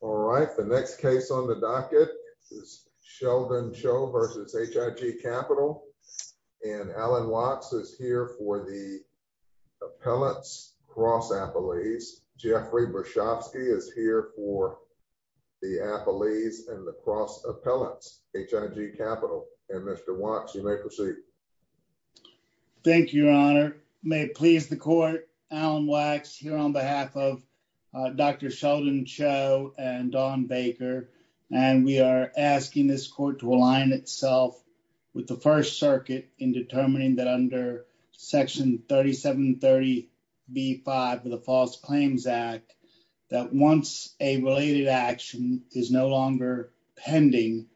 All right, the next case on the docket is Sheldon Cho v. H.I.G. Capital, and Alan Wachs is here for the appellants, cross-appellees. Jeffrey Bershovsky is here for the appellees and the cross-appellants, H.I.G. Capital. And Mr. Wachs, you may proceed. Thank you, Your Honor. May it please the court, Alan Wachs here on behalf of Dr. Sheldon Cho and Dawn Baker, and we are asking this court to align itself with the First Circuit in determining that under Section 3730B5 of the False Claims Act, that once a related action is no longer pending,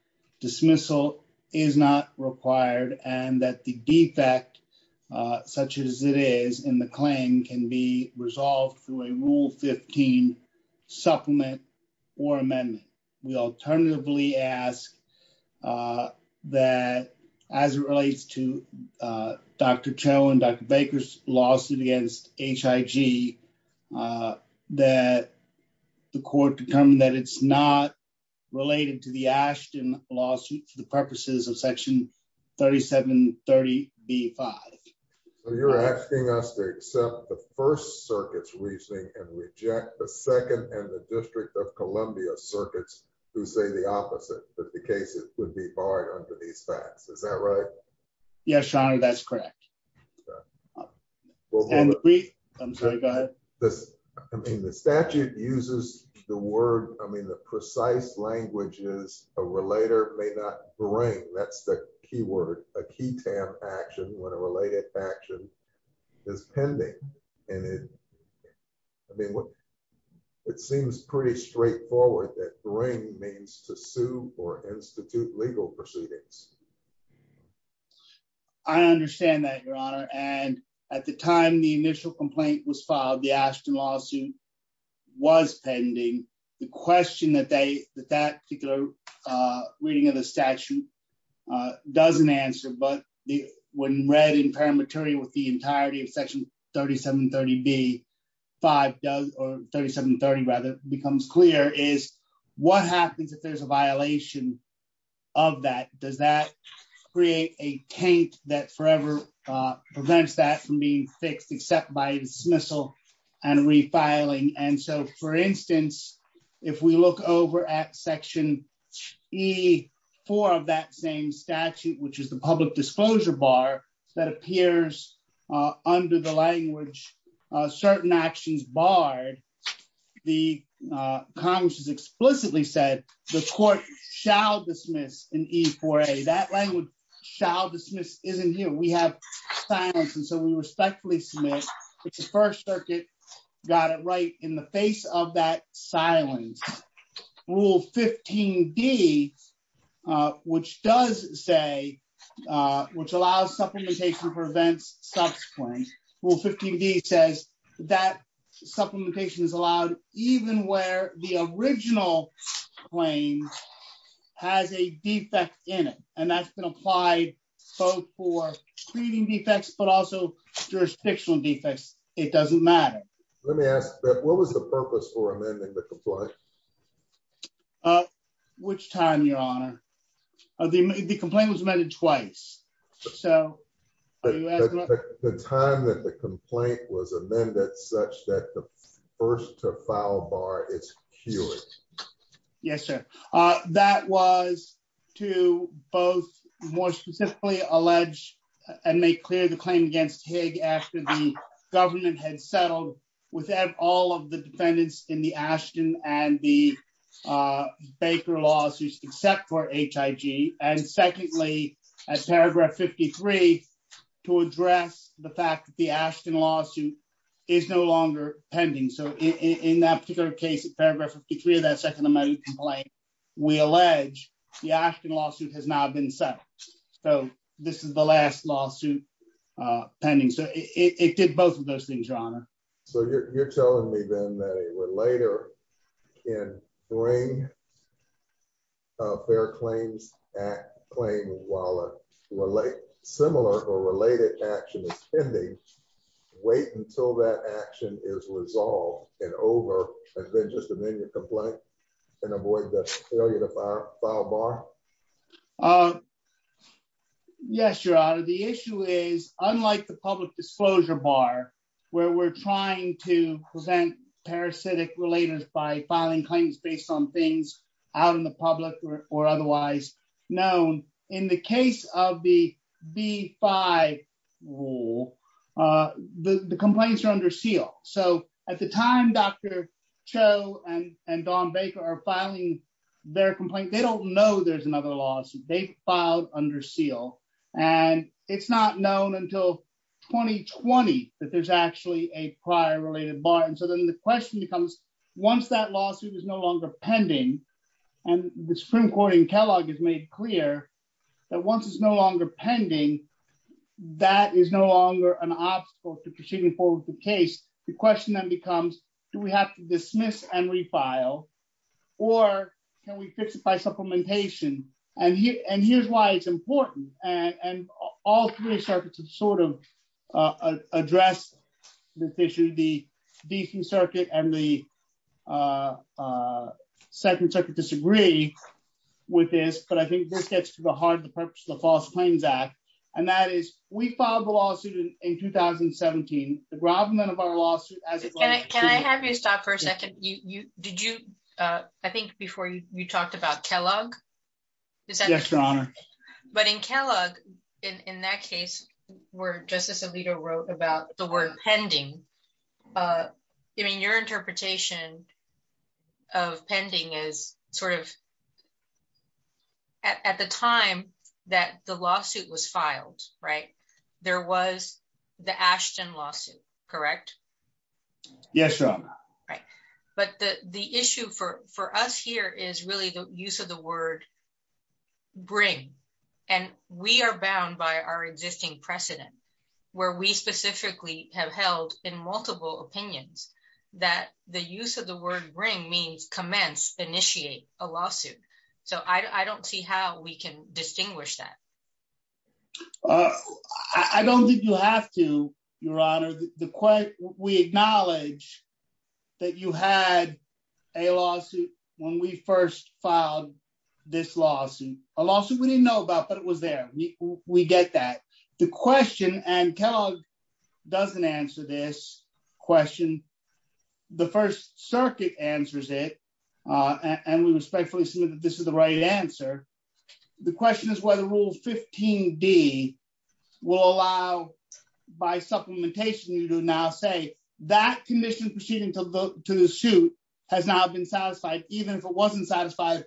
dismissal is not required and that the defect, such as it is in the claim, can be resolved through a Rule 15 supplement or amendment. We alternatively ask that as it relates to Dr. Cho and Dr. Baker's lawsuit against H.I.G., that the court determine that it's not related to the Ashton lawsuit for the purposes of Section 3730B5. So you're asking us to accept the First Circuit's reasoning and reject the Second and the District of Columbia Circuits who say the opposite, that the cases would be barred under these facts. Is that right? Yes, Your Honor, that's correct. I'm sorry, go ahead. I mean, the statute uses the word, I mean, the precise language is a relator may not bring, that's the key word, a key term action when a related action is pending. And it, I mean, it seems pretty straightforward that bring means to sue or institute legal proceedings. I understand that, Your Honor. And at the time the initial complaint was filed, the Ashton lawsuit was pending. The question that they, that that particular reading of the statute doesn't answer, but when read in paramateria with the entirety of Section 3730B5 does, 3730 rather, becomes clear is what happens if there's a violation of that? Does that create a taint that forever prevents that from being fixed except by dismissal and refiling? And so, for instance, if we look over at Section E4 of that same statute, which is the public disclosure bar that appears under the language, certain actions barred, the Congress has explicitly said the court shall dismiss in E4A. That language shall dismiss isn't here. We have silence. And so we respectfully submit that the First Circuit got it right in the face of that silence. Rule 15D, which does say, which allows supplementation for events subsequent, Rule 15D says that supplementation is allowed even where the original claim has a defect in it. And that's been applied both for treating defects, but also jurisdictional defects. It doesn't matter. Let me ask, what was the purpose for amending the complaint? At which time, Your Honor? The complaint was amended twice. So, the time that the complaint was amended such that the first to file bar is queued. Yes, sir. That was to both more specifically allege and make clear the claim against Higg after the government had settled without all of the defendants in the Ashton and the Baker lawsuits except for Higg. And secondly, as paragraph 53, to address the fact that the Ashton lawsuit is no longer pending. So, in that particular case, paragraph 53 of that second amendment complaint, we allege the Ashton lawsuit has not been settled. So, this is the last lawsuit pending. So, it did both of those things, Your Honor. So, you're telling me then that a relater can bring a fair claims act claim while a similar or related action is pending, wait until that action is resolved and over, and then just amend your complaint and avoid the failure to file bar? Uh, yes, Your Honor. The issue is unlike the public disclosure bar where we're trying to present parasitic relators by filing claims based on things out in the public or otherwise known. In the case of the B5 rule, the complaints are under seal. So, at the time, Dr. Cho and Don Baker are filing their complaint, they don't know there's another lawsuit. They filed under seal. And it's not known until 2020 that there's actually a prior related bar. And so, then the question becomes once that lawsuit is no longer pending and the Supreme Court in Kellogg has made clear that once it's no longer pending, that is no longer an obstacle to proceeding forward with or can we fix it by supplementation? And here's why it's important. And all three circuits have sort of addressed this issue. The Decent Circuit and the Second Circuit disagree with this, but I think this gets to the heart of the purpose of the False Claims Act. And that is we filed the I think before you talked about Kellogg. Yes, Your Honor. But in Kellogg, in that case where Justice Alito wrote about the word pending, I mean, your interpretation of pending is sort of at the time that the lawsuit was filed, right, there was the Ashton lawsuit, correct? Yes, Your Honor. Right. But the issue for us here is really the use of the word bring. And we are bound by our existing precedent where we specifically have held in multiple opinions that the use of the word bring means commence, initiate a lawsuit. So, I don't see how we can distinguish that. I don't think you have to, Your Honor. We acknowledge that you had a lawsuit when we first filed this lawsuit, a lawsuit we didn't know about, but it was there. We get that. The question, and Kellogg doesn't answer this question, the First Circuit answers it, and we respectfully submit that this is the right answer. The question is whether Rule 15d will allow by supplementation you to now say that condition proceeding to the suit has now been satisfied even if it wasn't satisfied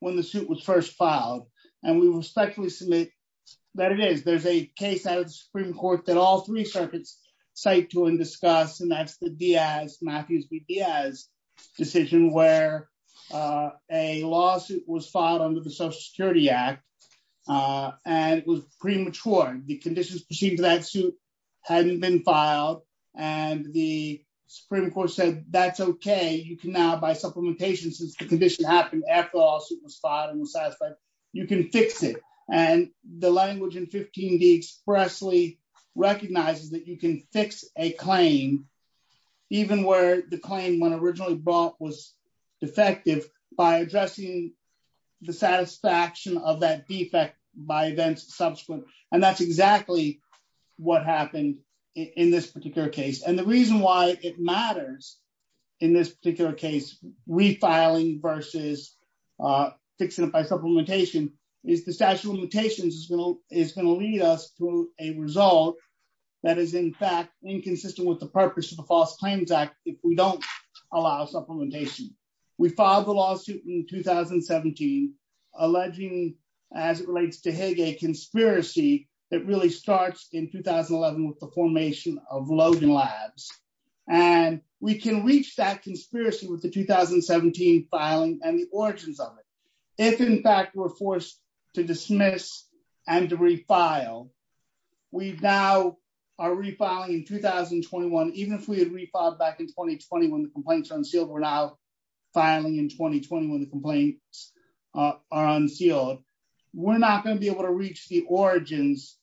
when the suit was first filed. And we respectfully submit that it is. There's a case out of the Supreme Court that all three circuits cite to and that's the Diaz, Matthews v. Diaz decision where a lawsuit was filed under the Social Security Act and it was premature. The conditions proceeding to that suit hadn't been filed and the Supreme Court said that's okay. You can now by supplementation since the condition happened after the lawsuit was filed and was satisfied, you can fix it. And the language in 15d expressly recognizes that you can fix a claim even where the claim when originally brought was defective by addressing the satisfaction of that defect by events subsequent. And that's exactly what happened in this particular case. And the reason why it matters in this particular case, refiling versus fixing it by supplementation is the statute of limitations is going to lead us to a result that is in fact inconsistent with the purpose of the False Claims Act if we don't allow supplementation. We filed the lawsuit in 2017 alleging as it relates to Hague a conspiracy that really starts in 2011 with the formation of Logan Labs. And we can reach that conspiracy with the 2017 filing and the origins of it. If in fact we're forced to dismiss and to refile, we now are refiling in 2021. Even if we had refiled back in 2020 when the complaints are unsealed, we're now filing in 2020 when the complaints are unsealed. We're not going to be able to reach the origins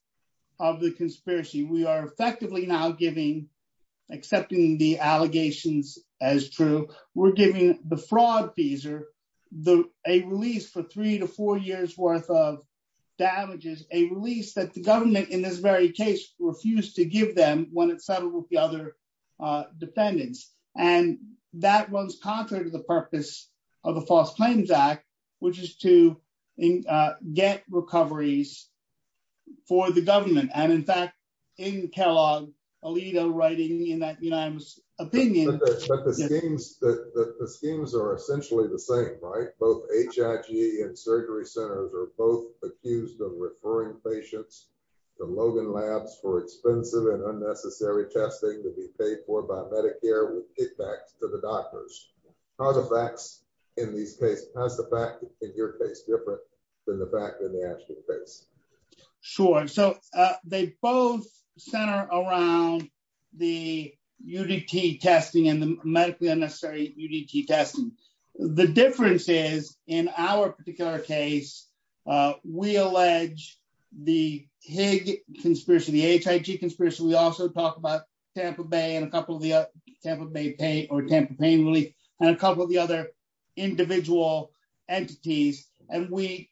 of the conspiracy. We are effectively now giving, accepting the allegations as true. We're giving the fraud fees or a release for three to four years worth of damages, a release that the government in this very case refused to give them when it settled with the other defendants. And that runs contrary to the purpose of the False Claims Act, which is to get recoveries for the government. And in fact, in Kellogg, Alito writing in that unanimous opinion... But the schemes are essentially the same, right? Both HIG and surgery centers are accused of referring patients to Logan Labs for expensive and unnecessary testing to be paid for by Medicare with kickbacks to the doctors. How's the fact in your case different than the fact in the Ashton case? Sure. So they both center around the UDT testing and the medically unnecessary UDT testing. The difference is in our particular case, we allege the HIG conspiracy. We also talk about Tampa Bay or Tampa Pain Relief and a couple of the other individual entities. And we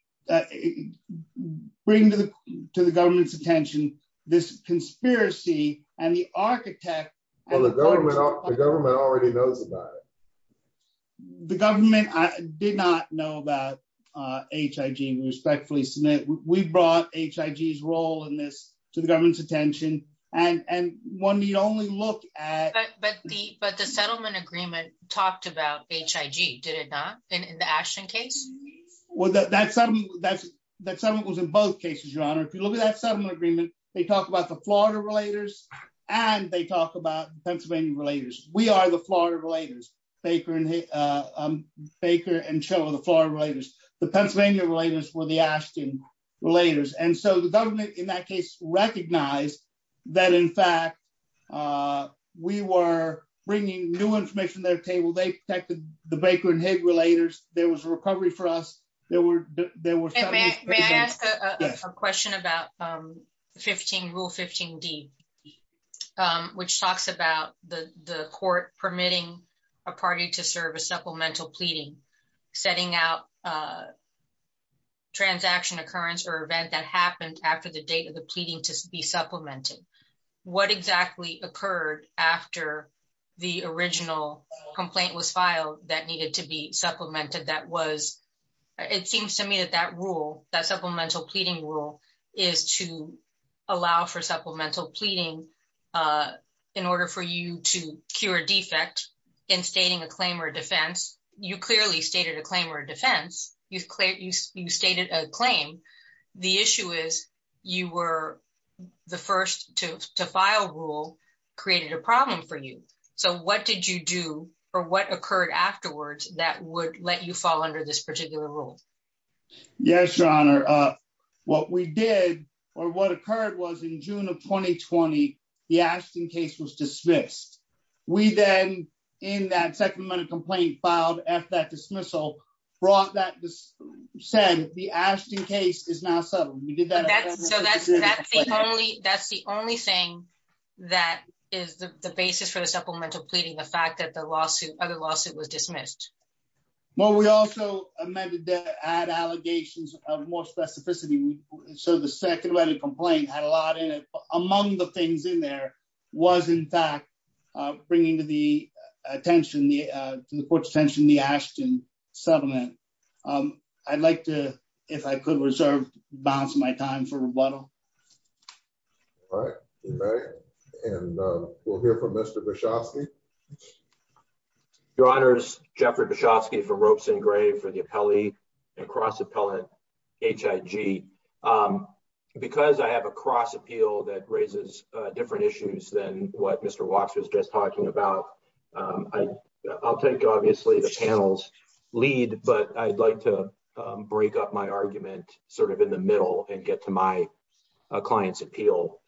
bring to the government's attention this conspiracy and the architect... Well, the government already knows about it. The government did not know about HIG, we respectfully submit. We brought HIG's role in this to the government's attention. And one need only look at... But the settlement agreement talked about HIG, did it not? In the Ashton case? Well, that settlement was in both cases, Your Honor. If you look at that settlement agreement, they talk about the Florida Relators and they talk about Pennsylvania Relators. We are the Florida Relators, Baker and Schiller, the Florida Relators. The Pennsylvania Relators were the Ashton Relators. And so the government in that case recognized that, in fact, we were bringing new information to their table. They protected the Baker and HIG Relators. There was a recovery for us. There were... May I ask a question about Rule 15D, which talks about the court permitting a party to serve a supplemental pleading, setting out a transaction occurrence or event that happened after the date of the pleading to be supplemented. What exactly occurred after the original complaint was filed that needed to be supplemented that was... It seems to me that that rule, that supplemental pleading rule, is to allow for supplemental pleading in order for you to cure a defect in stating a claim or a defense. You clearly stated a claim or a defense. You stated a claim. The issue is you were the first to file a rule created a problem for you. So what did you do or what occurred afterwards that would let you fall under this particular rule? Yes, Your Honor. What we did or what occurred was in June of 2020, the Ashton case was dismissed. We then, in that supplemental complaint filed after that dismissal, brought that... Said the Ashton case is now settled. We did that... So that's the only thing that is the basis for the supplemental pleading, the fact that the other lawsuit was dismissed. Well, we also amended the ad allegations of more specificity. So the second letter complaint had a lot in it. Among the things in there was, in fact, bringing to the attention, to the court's attention, the Ashton settlement. I'd like to, if I could, reserve balance of my time for rebuttal. All right. And we'll hear from Mr. Bischofsky. Your Honors, Jeffrey Bischofsky for Ropes and Grave for the appellee and cross-appellant HIG. Because I have a cross appeal that raises different issues than what Mr. Wachs was just sort of in the middle and get to my client's appeal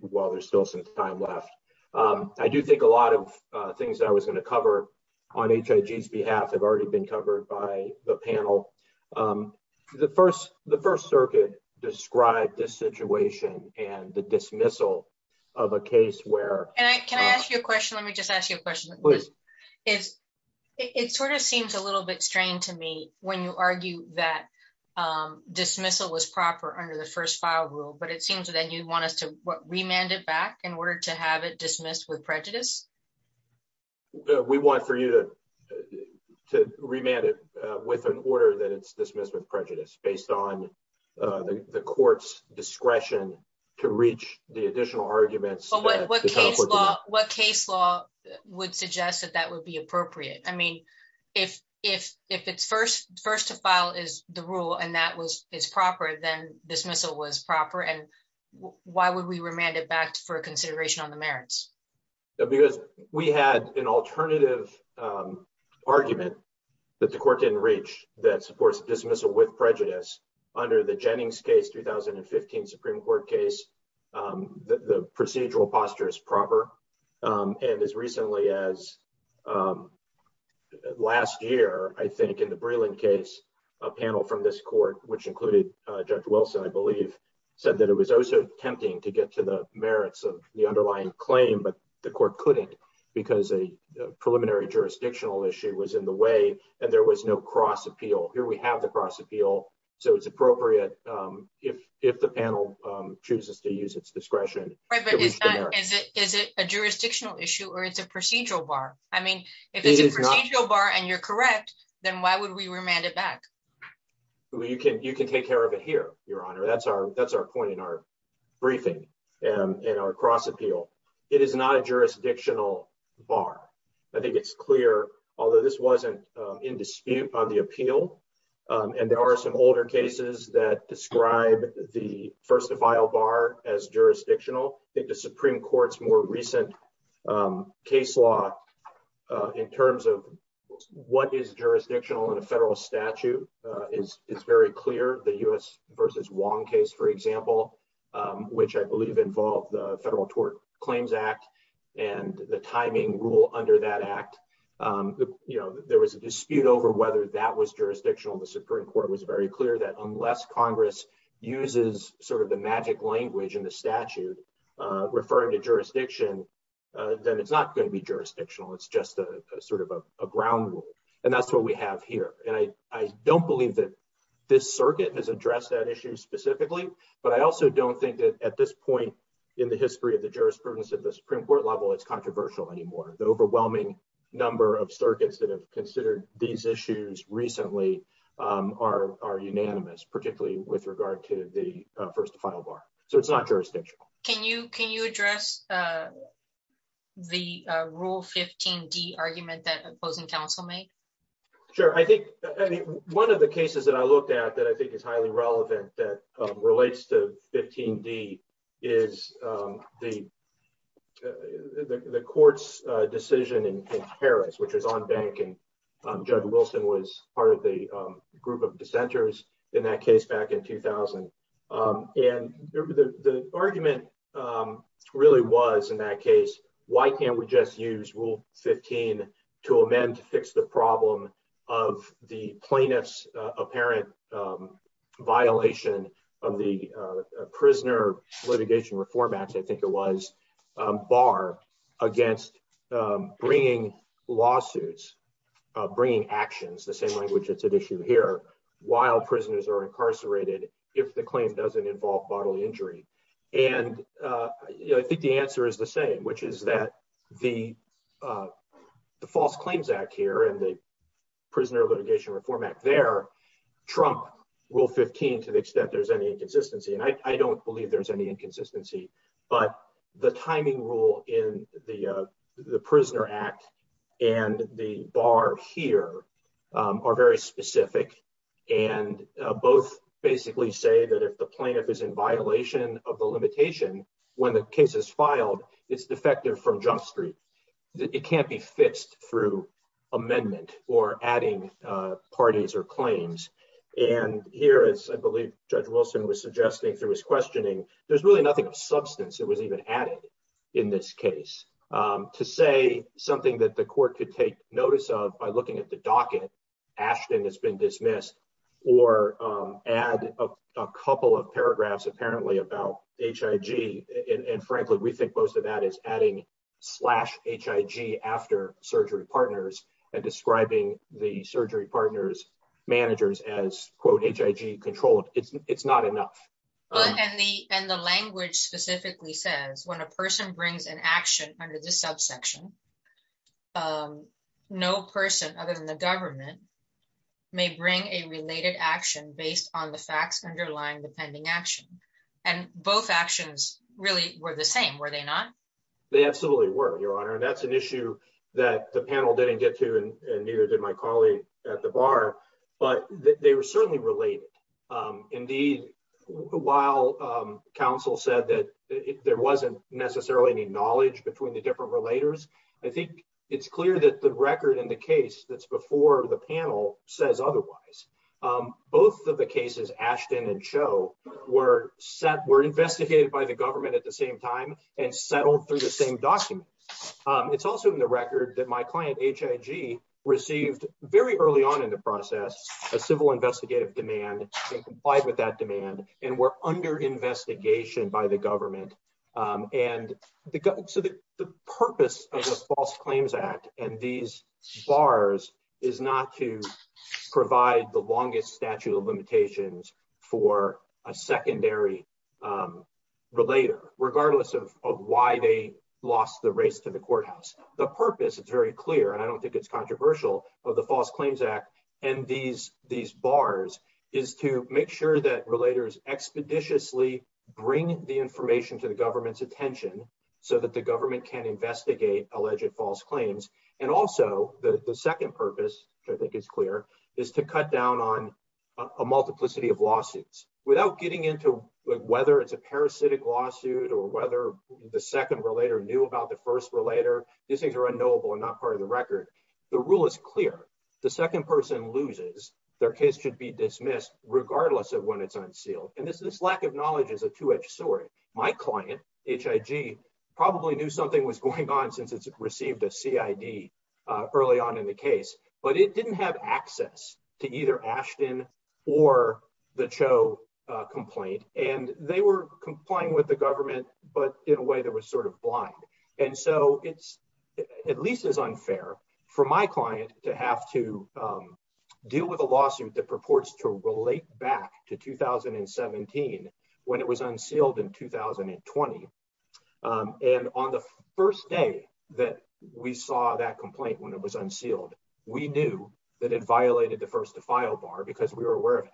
while there's still some time left. I do think a lot of things that I was going to cover on HIG's behalf have already been covered by the panel. The First Circuit described this situation and the dismissal of a case where... And can I ask you a question? Let me just ask you a question. It sort of seems a little bit to me when you argue that dismissal was proper under the first file rule, but it seems that you'd want us to remand it back in order to have it dismissed with prejudice. We want for you to remand it with an order that it's dismissed with prejudice based on the court's discretion to reach the additional arguments. What case law would suggest that that would be appropriate? I mean, if it's first to file is the rule and that is proper, then dismissal was proper. And why would we remand it back for consideration on the merits? Because we had an alternative argument that the court didn't reach that supports dismissal with prejudice under the Jennings case, 2015 Supreme Court case, the procedural posture is proper. And as recently as last year, I think in the Breland case, a panel from this court, which included Judge Wilson, I believe, said that it was also tempting to get to the merits of the underlying claim, but the court couldn't because a preliminary jurisdictional issue was in the way and there was no cross appeal. Here we have the cross appeal, so it's appropriate if the panel chooses to use its discretion. Right, but is it a jurisdictional issue or it's a procedural bar? I mean, if it's a procedural bar and you're correct, then why would we remand it back? Well, you can take care of it here, Your Honor. That's our point in our briefing and in our cross appeal. It is not a jurisdictional bar. I think it's clear, although this wasn't in dispute on the appeal, and there are some older cases that describe the first defile bar as jurisdictional. I think the Supreme Court's more recent case law in terms of what is jurisdictional in a federal statute is very clear. The U.S. versus Wong case, for example, which I believe involved the Federal Tort Claims Act and the there was a dispute over whether that was jurisdictional. The Supreme Court was very clear that unless Congress uses sort of the magic language in the statute referring to jurisdiction, then it's not going to be jurisdictional. It's just a sort of a ground rule, and that's what we have here. And I don't believe that this circuit has addressed that issue specifically, but I also don't think that at this point in the history of the jurisprudence at the Supreme Court it's controversial anymore. The overwhelming number of circuits that have considered these issues recently are unanimous, particularly with regard to the first defile bar. So it's not jurisdictional. Can you address the Rule 15d argument that opposing counsel made? Sure. I think one of the cases that I looked at that I think is highly relevant that relates to Rule 15d is the court's decision in Paris, which was on bank, and Judge Wilson was part of the group of dissenters in that case back in 2000. And the argument really was in that case, why can't we just use Rule 15 to amend to fix the problem of the plaintiff's apparent violation of the Prisoner Litigation Reform Act, I think it was, bar against bringing lawsuits, bringing actions, the same language that's at issue here, while prisoners are incarcerated if the claim doesn't involve bodily injury. And I think the answer is the same, which is that the False Claims Act here and the Prisoner Litigation Reform Act there trump Rule 15 to the extent there's any inconsistency. And I don't believe there's any inconsistency, but the timing rule in the Prisoner Act and the bar here are very specific and both basically say that if the plaintiff is in violation of the limitation when the case is filed, it's defective from junk street, it can't be fixed through amendment or adding parties or claims. And here, as I believe Judge Wilson was suggesting through his questioning, there's really nothing of substance that was even added in this case. To say something that the court could take notice of by looking at the docket, Ashton has been dismissed, or add a couple of paragraphs apparently about HIG. And frankly, we think most of that is adding slash HIG after surgery partners and describing the surgery partners, managers as quote, HIG controlled. It's not enough. And the language specifically says when a person brings an action under this subsection, no person other than the government may bring a related action based on the facts underlying action. And both actions really were the same, were they not? They absolutely were, Your Honor. And that's an issue that the panel didn't get to and neither did my colleague at the bar, but they were certainly related. Indeed, while counsel said that there wasn't necessarily any knowledge between the different relators, I think it's clear that the record in the case that's before the panel says otherwise. Both of the cases Ashton and Cho were investigated by the government at the same time and settled through the same document. It's also in the record that my client HIG received very early on in the process, a civil investigative demand and complied with that demand and were under investigation by the government. And so the purpose of the False Claims Act and these bars is not to provide the longest statute of limitations for a secondary relator, regardless of why they lost the race to the courthouse. The purpose, it's very clear, and I don't think it's controversial, of the False Claims Act and these bars is to make sure that relators expeditiously bring the information to the government's attention so that the government can investigate alleged false claims. And also, the second purpose, which I think is clear, is to cut down on a multiplicity of lawsuits. Without getting into whether it's a parasitic lawsuit or whether the second relator knew about the first relator, these things are unknowable and not part of the record. The rule is clear. The second person loses, their case should be dismissed, regardless of when it's unsealed. And this lack of knowledge is a two-edged sword. My client, HIG, probably knew something was going on since it's received a CID early on in the case, but it didn't have access to either Ashton or the Cho complaint. And they were complying with the government, but in a way that was sort of blind. And so, it's at least as unfair for my client to have to deal with a lawsuit that relates back to 2017 when it was unsealed in 2020. And on the first day that we saw that complaint when it was unsealed, we knew that it violated the first to file bar because we were aware of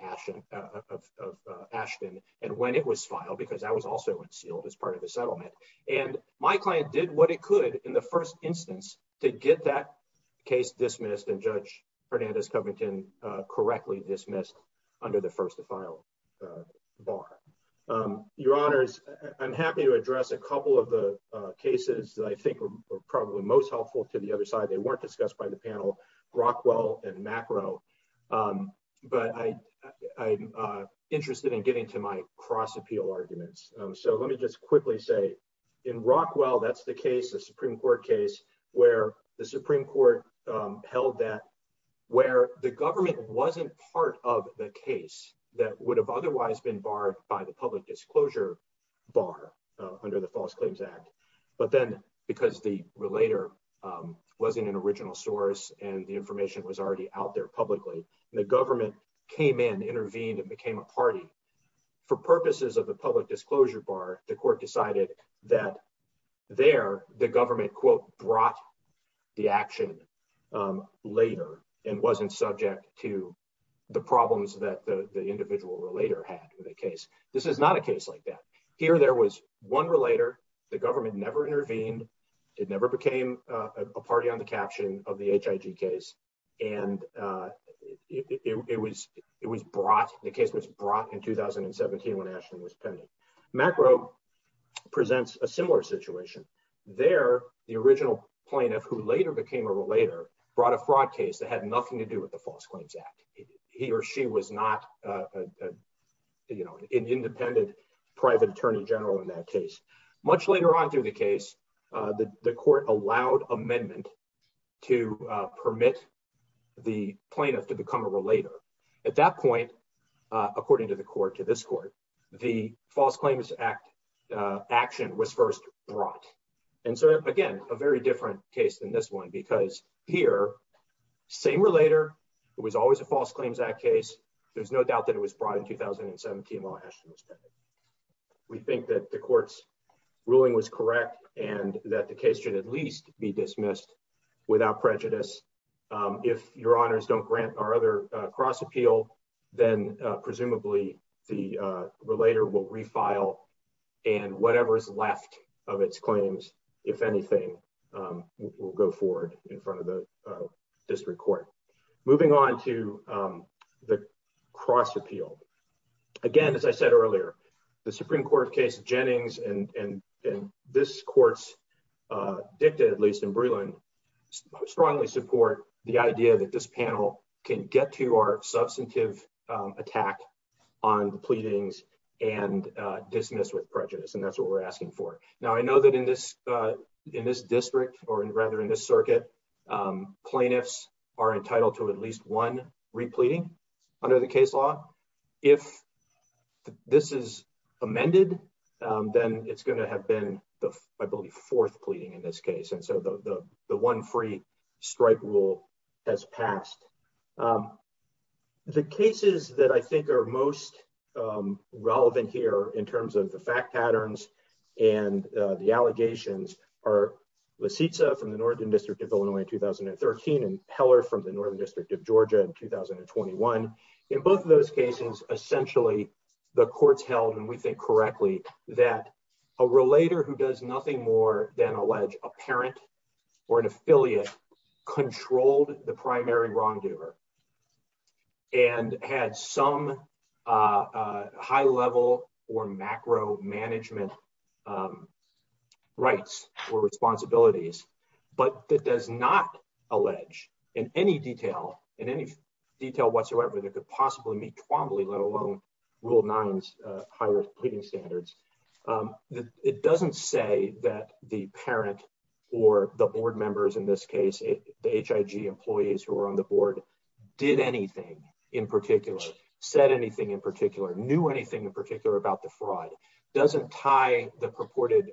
Ashton and when it was filed because that was also unsealed as part of the settlement. And my client did what it could in the first instance to get that case dismissed and Judge under the first to file bar. Your Honors, I'm happy to address a couple of the cases that I think are probably most helpful to the other side. They weren't discussed by the panel, Rockwell and Macro. But I'm interested in getting to my cross-appeal arguments. So, let me just quickly say, in Rockwell, that's the case, the Supreme Court case, where the Supreme that would have otherwise been barred by the public disclosure bar under the False Claims Act, but then because the relator wasn't an original source and the information was already out there publicly and the government came in, intervened and became a party. For purposes of the public disclosure bar, the court decided that there, the government, quote, brought the action later and wasn't subject to the problems that the individual relator had with the case. This is not a case like that. Here, there was one relator, the government never intervened, it never became a party on the caption of the HIG case and it was brought, the case was brought in 2017 when Ashton was pending. Macro presents a similar situation. There, the original plaintiff, who later became a relator, brought a fraud case that had nothing to do with the False Claims Act. He or she was not an independent private attorney general in that case. Much later on through the case, the court allowed amendment to permit the plaintiff to become a relator. At that point, according to the court, to this court, the False Claims Act action was first brought. And so, again, a very different case than this one because here, same relator, it was always a False Claims Act case, there's no doubt that it was brought in 2017 while Ashton was pending. We think that the court's ruling was correct and that the case should at least be dismissed without prejudice. If your honors don't grant our other cross appeal, then presumably the file and whatever is left of its claims, if anything, will go forward in front of the district court. Moving on to the cross appeal. Again, as I said earlier, the Supreme Court case of Jennings and this court's dicta, at least in Breland, strongly support the idea that this panel can get to our substantive attack on the pleadings and dismiss with prejudice. And that's what we're asking for. Now, I know that in this district or rather in this circuit, plaintiffs are entitled to at least one repleading under the case law. If this is amended, then it's going to have been I believe fourth pleading in this case. And so the one free strike rule has passed. The cases that I think are most relevant here in terms of the fact patterns and the allegations are Lisitsa from the Northern District of Illinois in 2013 and Heller from the Northern District of Georgia in 2021. In both of those cases, essentially, the court's held and we think correctly, that a relator who does nothing more than allege a parent or an affiliate controlled the primary wrongdoer and had some high level or macro management rights or responsibilities, but that does not allege in any detail, in any detail whatsoever, that could possibly meet Twombly, let alone rule nine's higher pleading standards. It doesn't say that the parent or the board members in this case, the HIG employees who are on the board, did anything in particular, said anything in particular, knew anything in particular about the fraud, doesn't tie the purported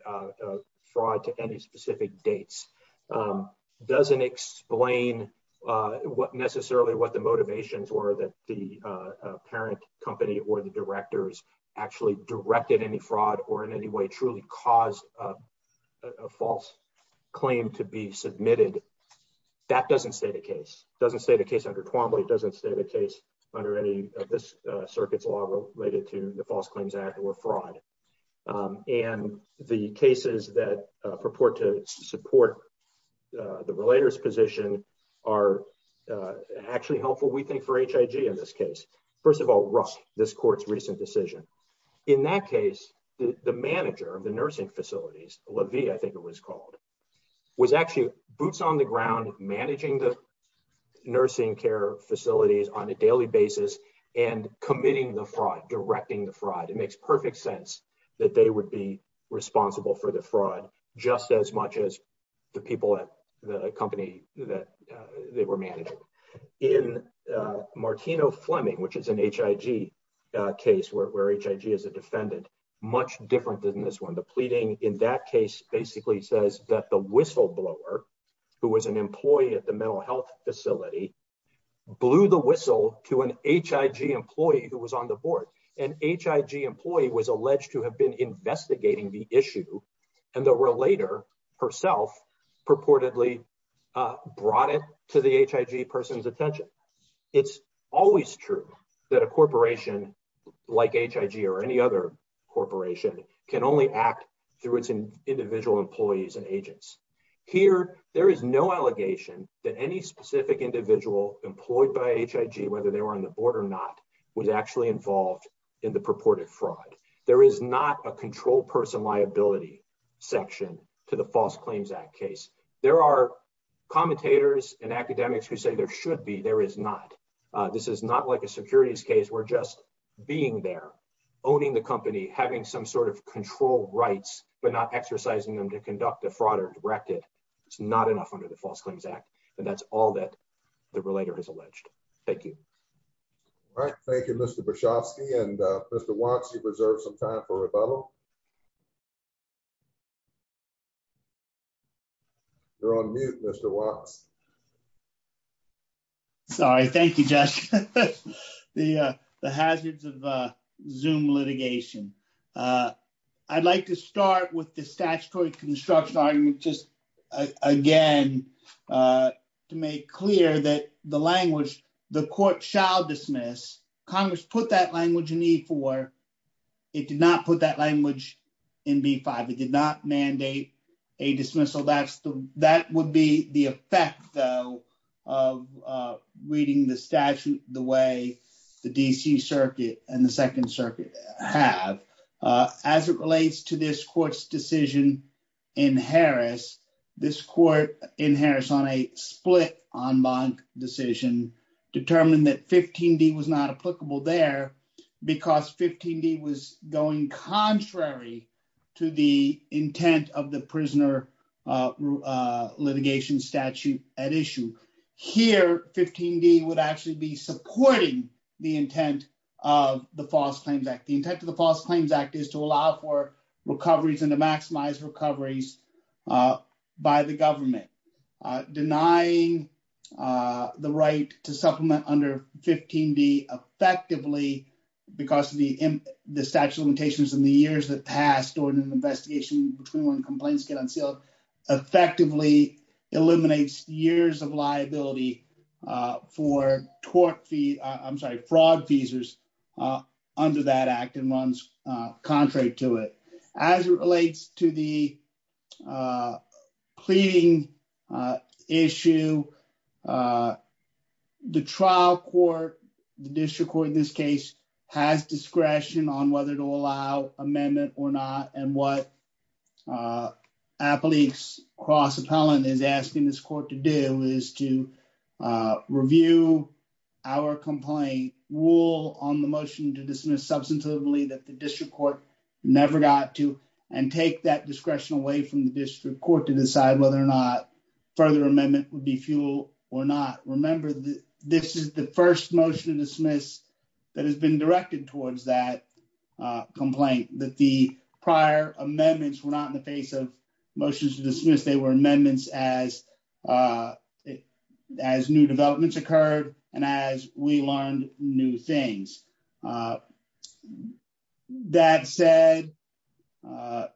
fraud to any specific dates, doesn't explain what necessarily what the motivations were that the parent company or the directors actually directed any fraud or in any way truly caused a false claim to be submitted. That doesn't state a case, doesn't state a case under Twombly, doesn't state a case under any of this circuit's law related to the False Claims Act or fraud. And the cases that purport to support the relator's position are actually helpful, we think, for HIG in this case. First of all, rust this court's recent decision. In that case, the manager of the nursing facilities, Levy, I think it was called, was actually boots on the ground managing the nursing care facilities on a daily basis and committing the fraud, directing the fraud. It makes perfect sense that they would be responsible for the fraud, just as much as the people at the company that they were managing. In Martino-Fleming, which is an HIG case where HIG is a defendant, much different than this one. The pleading in that case basically says that the whistleblower, who was an employee at the HIG, employee who was on the board, an HIG employee, was alleged to have been investigating the issue and the relator herself purportedly brought it to the HIG person's attention. It's always true that a corporation like HIG or any other corporation can only act through its individual employees and agents. Here, there is no allegation that any specific individual employed by HIG, whether they were on the board or not, was actually involved in the purported fraud. There is not a control person liability section to the False Claims Act case. There are commentators and academics who say there should be. There is not. This is not like a securities case where just being there, owning the company, having some sort of control rights, but not exercising them to conduct a fraud or direct it. It's not enough under the False Claims Act. The relator is alleged. Thank you. All right. Thank you, Mr. Brzozowski. Mr. Watts, you've reserved some time for rebuttal. You're on mute, Mr. Watts. Sorry. Thank you, Josh. The hazards of Zoom litigation. I'd like to start with the statutory construction argument just, again, to make clear that the language, the court shall dismiss. Congress put that language in E4. It did not put that language in B5. It did not mandate a dismissal. That would be the effect, though, of reading the statute the way the D.C. Circuit and the Second Circuit have. As it relates to this court's decision in Harris, this court in Harris on a split en banc decision determined that 15D was not applicable there because 15D was going contrary to the intent of the prisoner litigation statute at issue. Here, 15D would be supporting the intent of the False Claims Act. The intent of the False Claims Act is to allow for recoveries and to maximize recoveries by the government. Denying the right to supplement under 15D effectively because of the statute of limitations and the years that pass during an investigation between when complaints get unsealed effectively eliminates years of liability for tort fee, I'm sorry, fraud fees under that act and runs contrary to it. As it relates to the pleading issue, the trial court, the district court in this case, has discretion on whether to allow amendment or not and what Appalachia Cross Appellant is asking this court to do is to review our complaint, rule on the motion to dismiss substantively that the district court never got to, and take that discretion away from the district court to decide whether or not further amendment would be fuel or not. Remember, this is the first motion to dismiss that has been directed towards that complaint, that the prior amendments were not in the face of motions to dismiss, they were amendments as new developments occurred and as we learned new things. That said,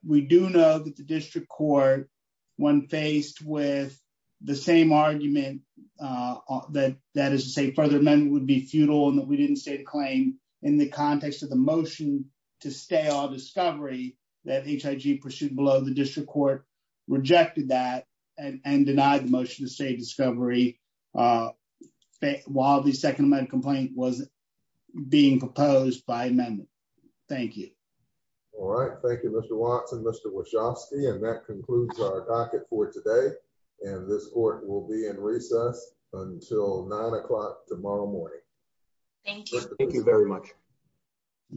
we do know that the district court, when faced with the same argument, that is to say further amendment would be futile and that we didn't state a claim in the context of the motion to stay on discovery that HIG pursued below the district court rejected that and denied the motion to stay discovery while the second amendment complaint was being proposed by amendment. Thank you. All right, thank you Mr. Watson, Mr. Wachowski, and that concludes our docket for today and this court will be in recess until nine o'clock tomorrow morning. Thank you. Thank you very much.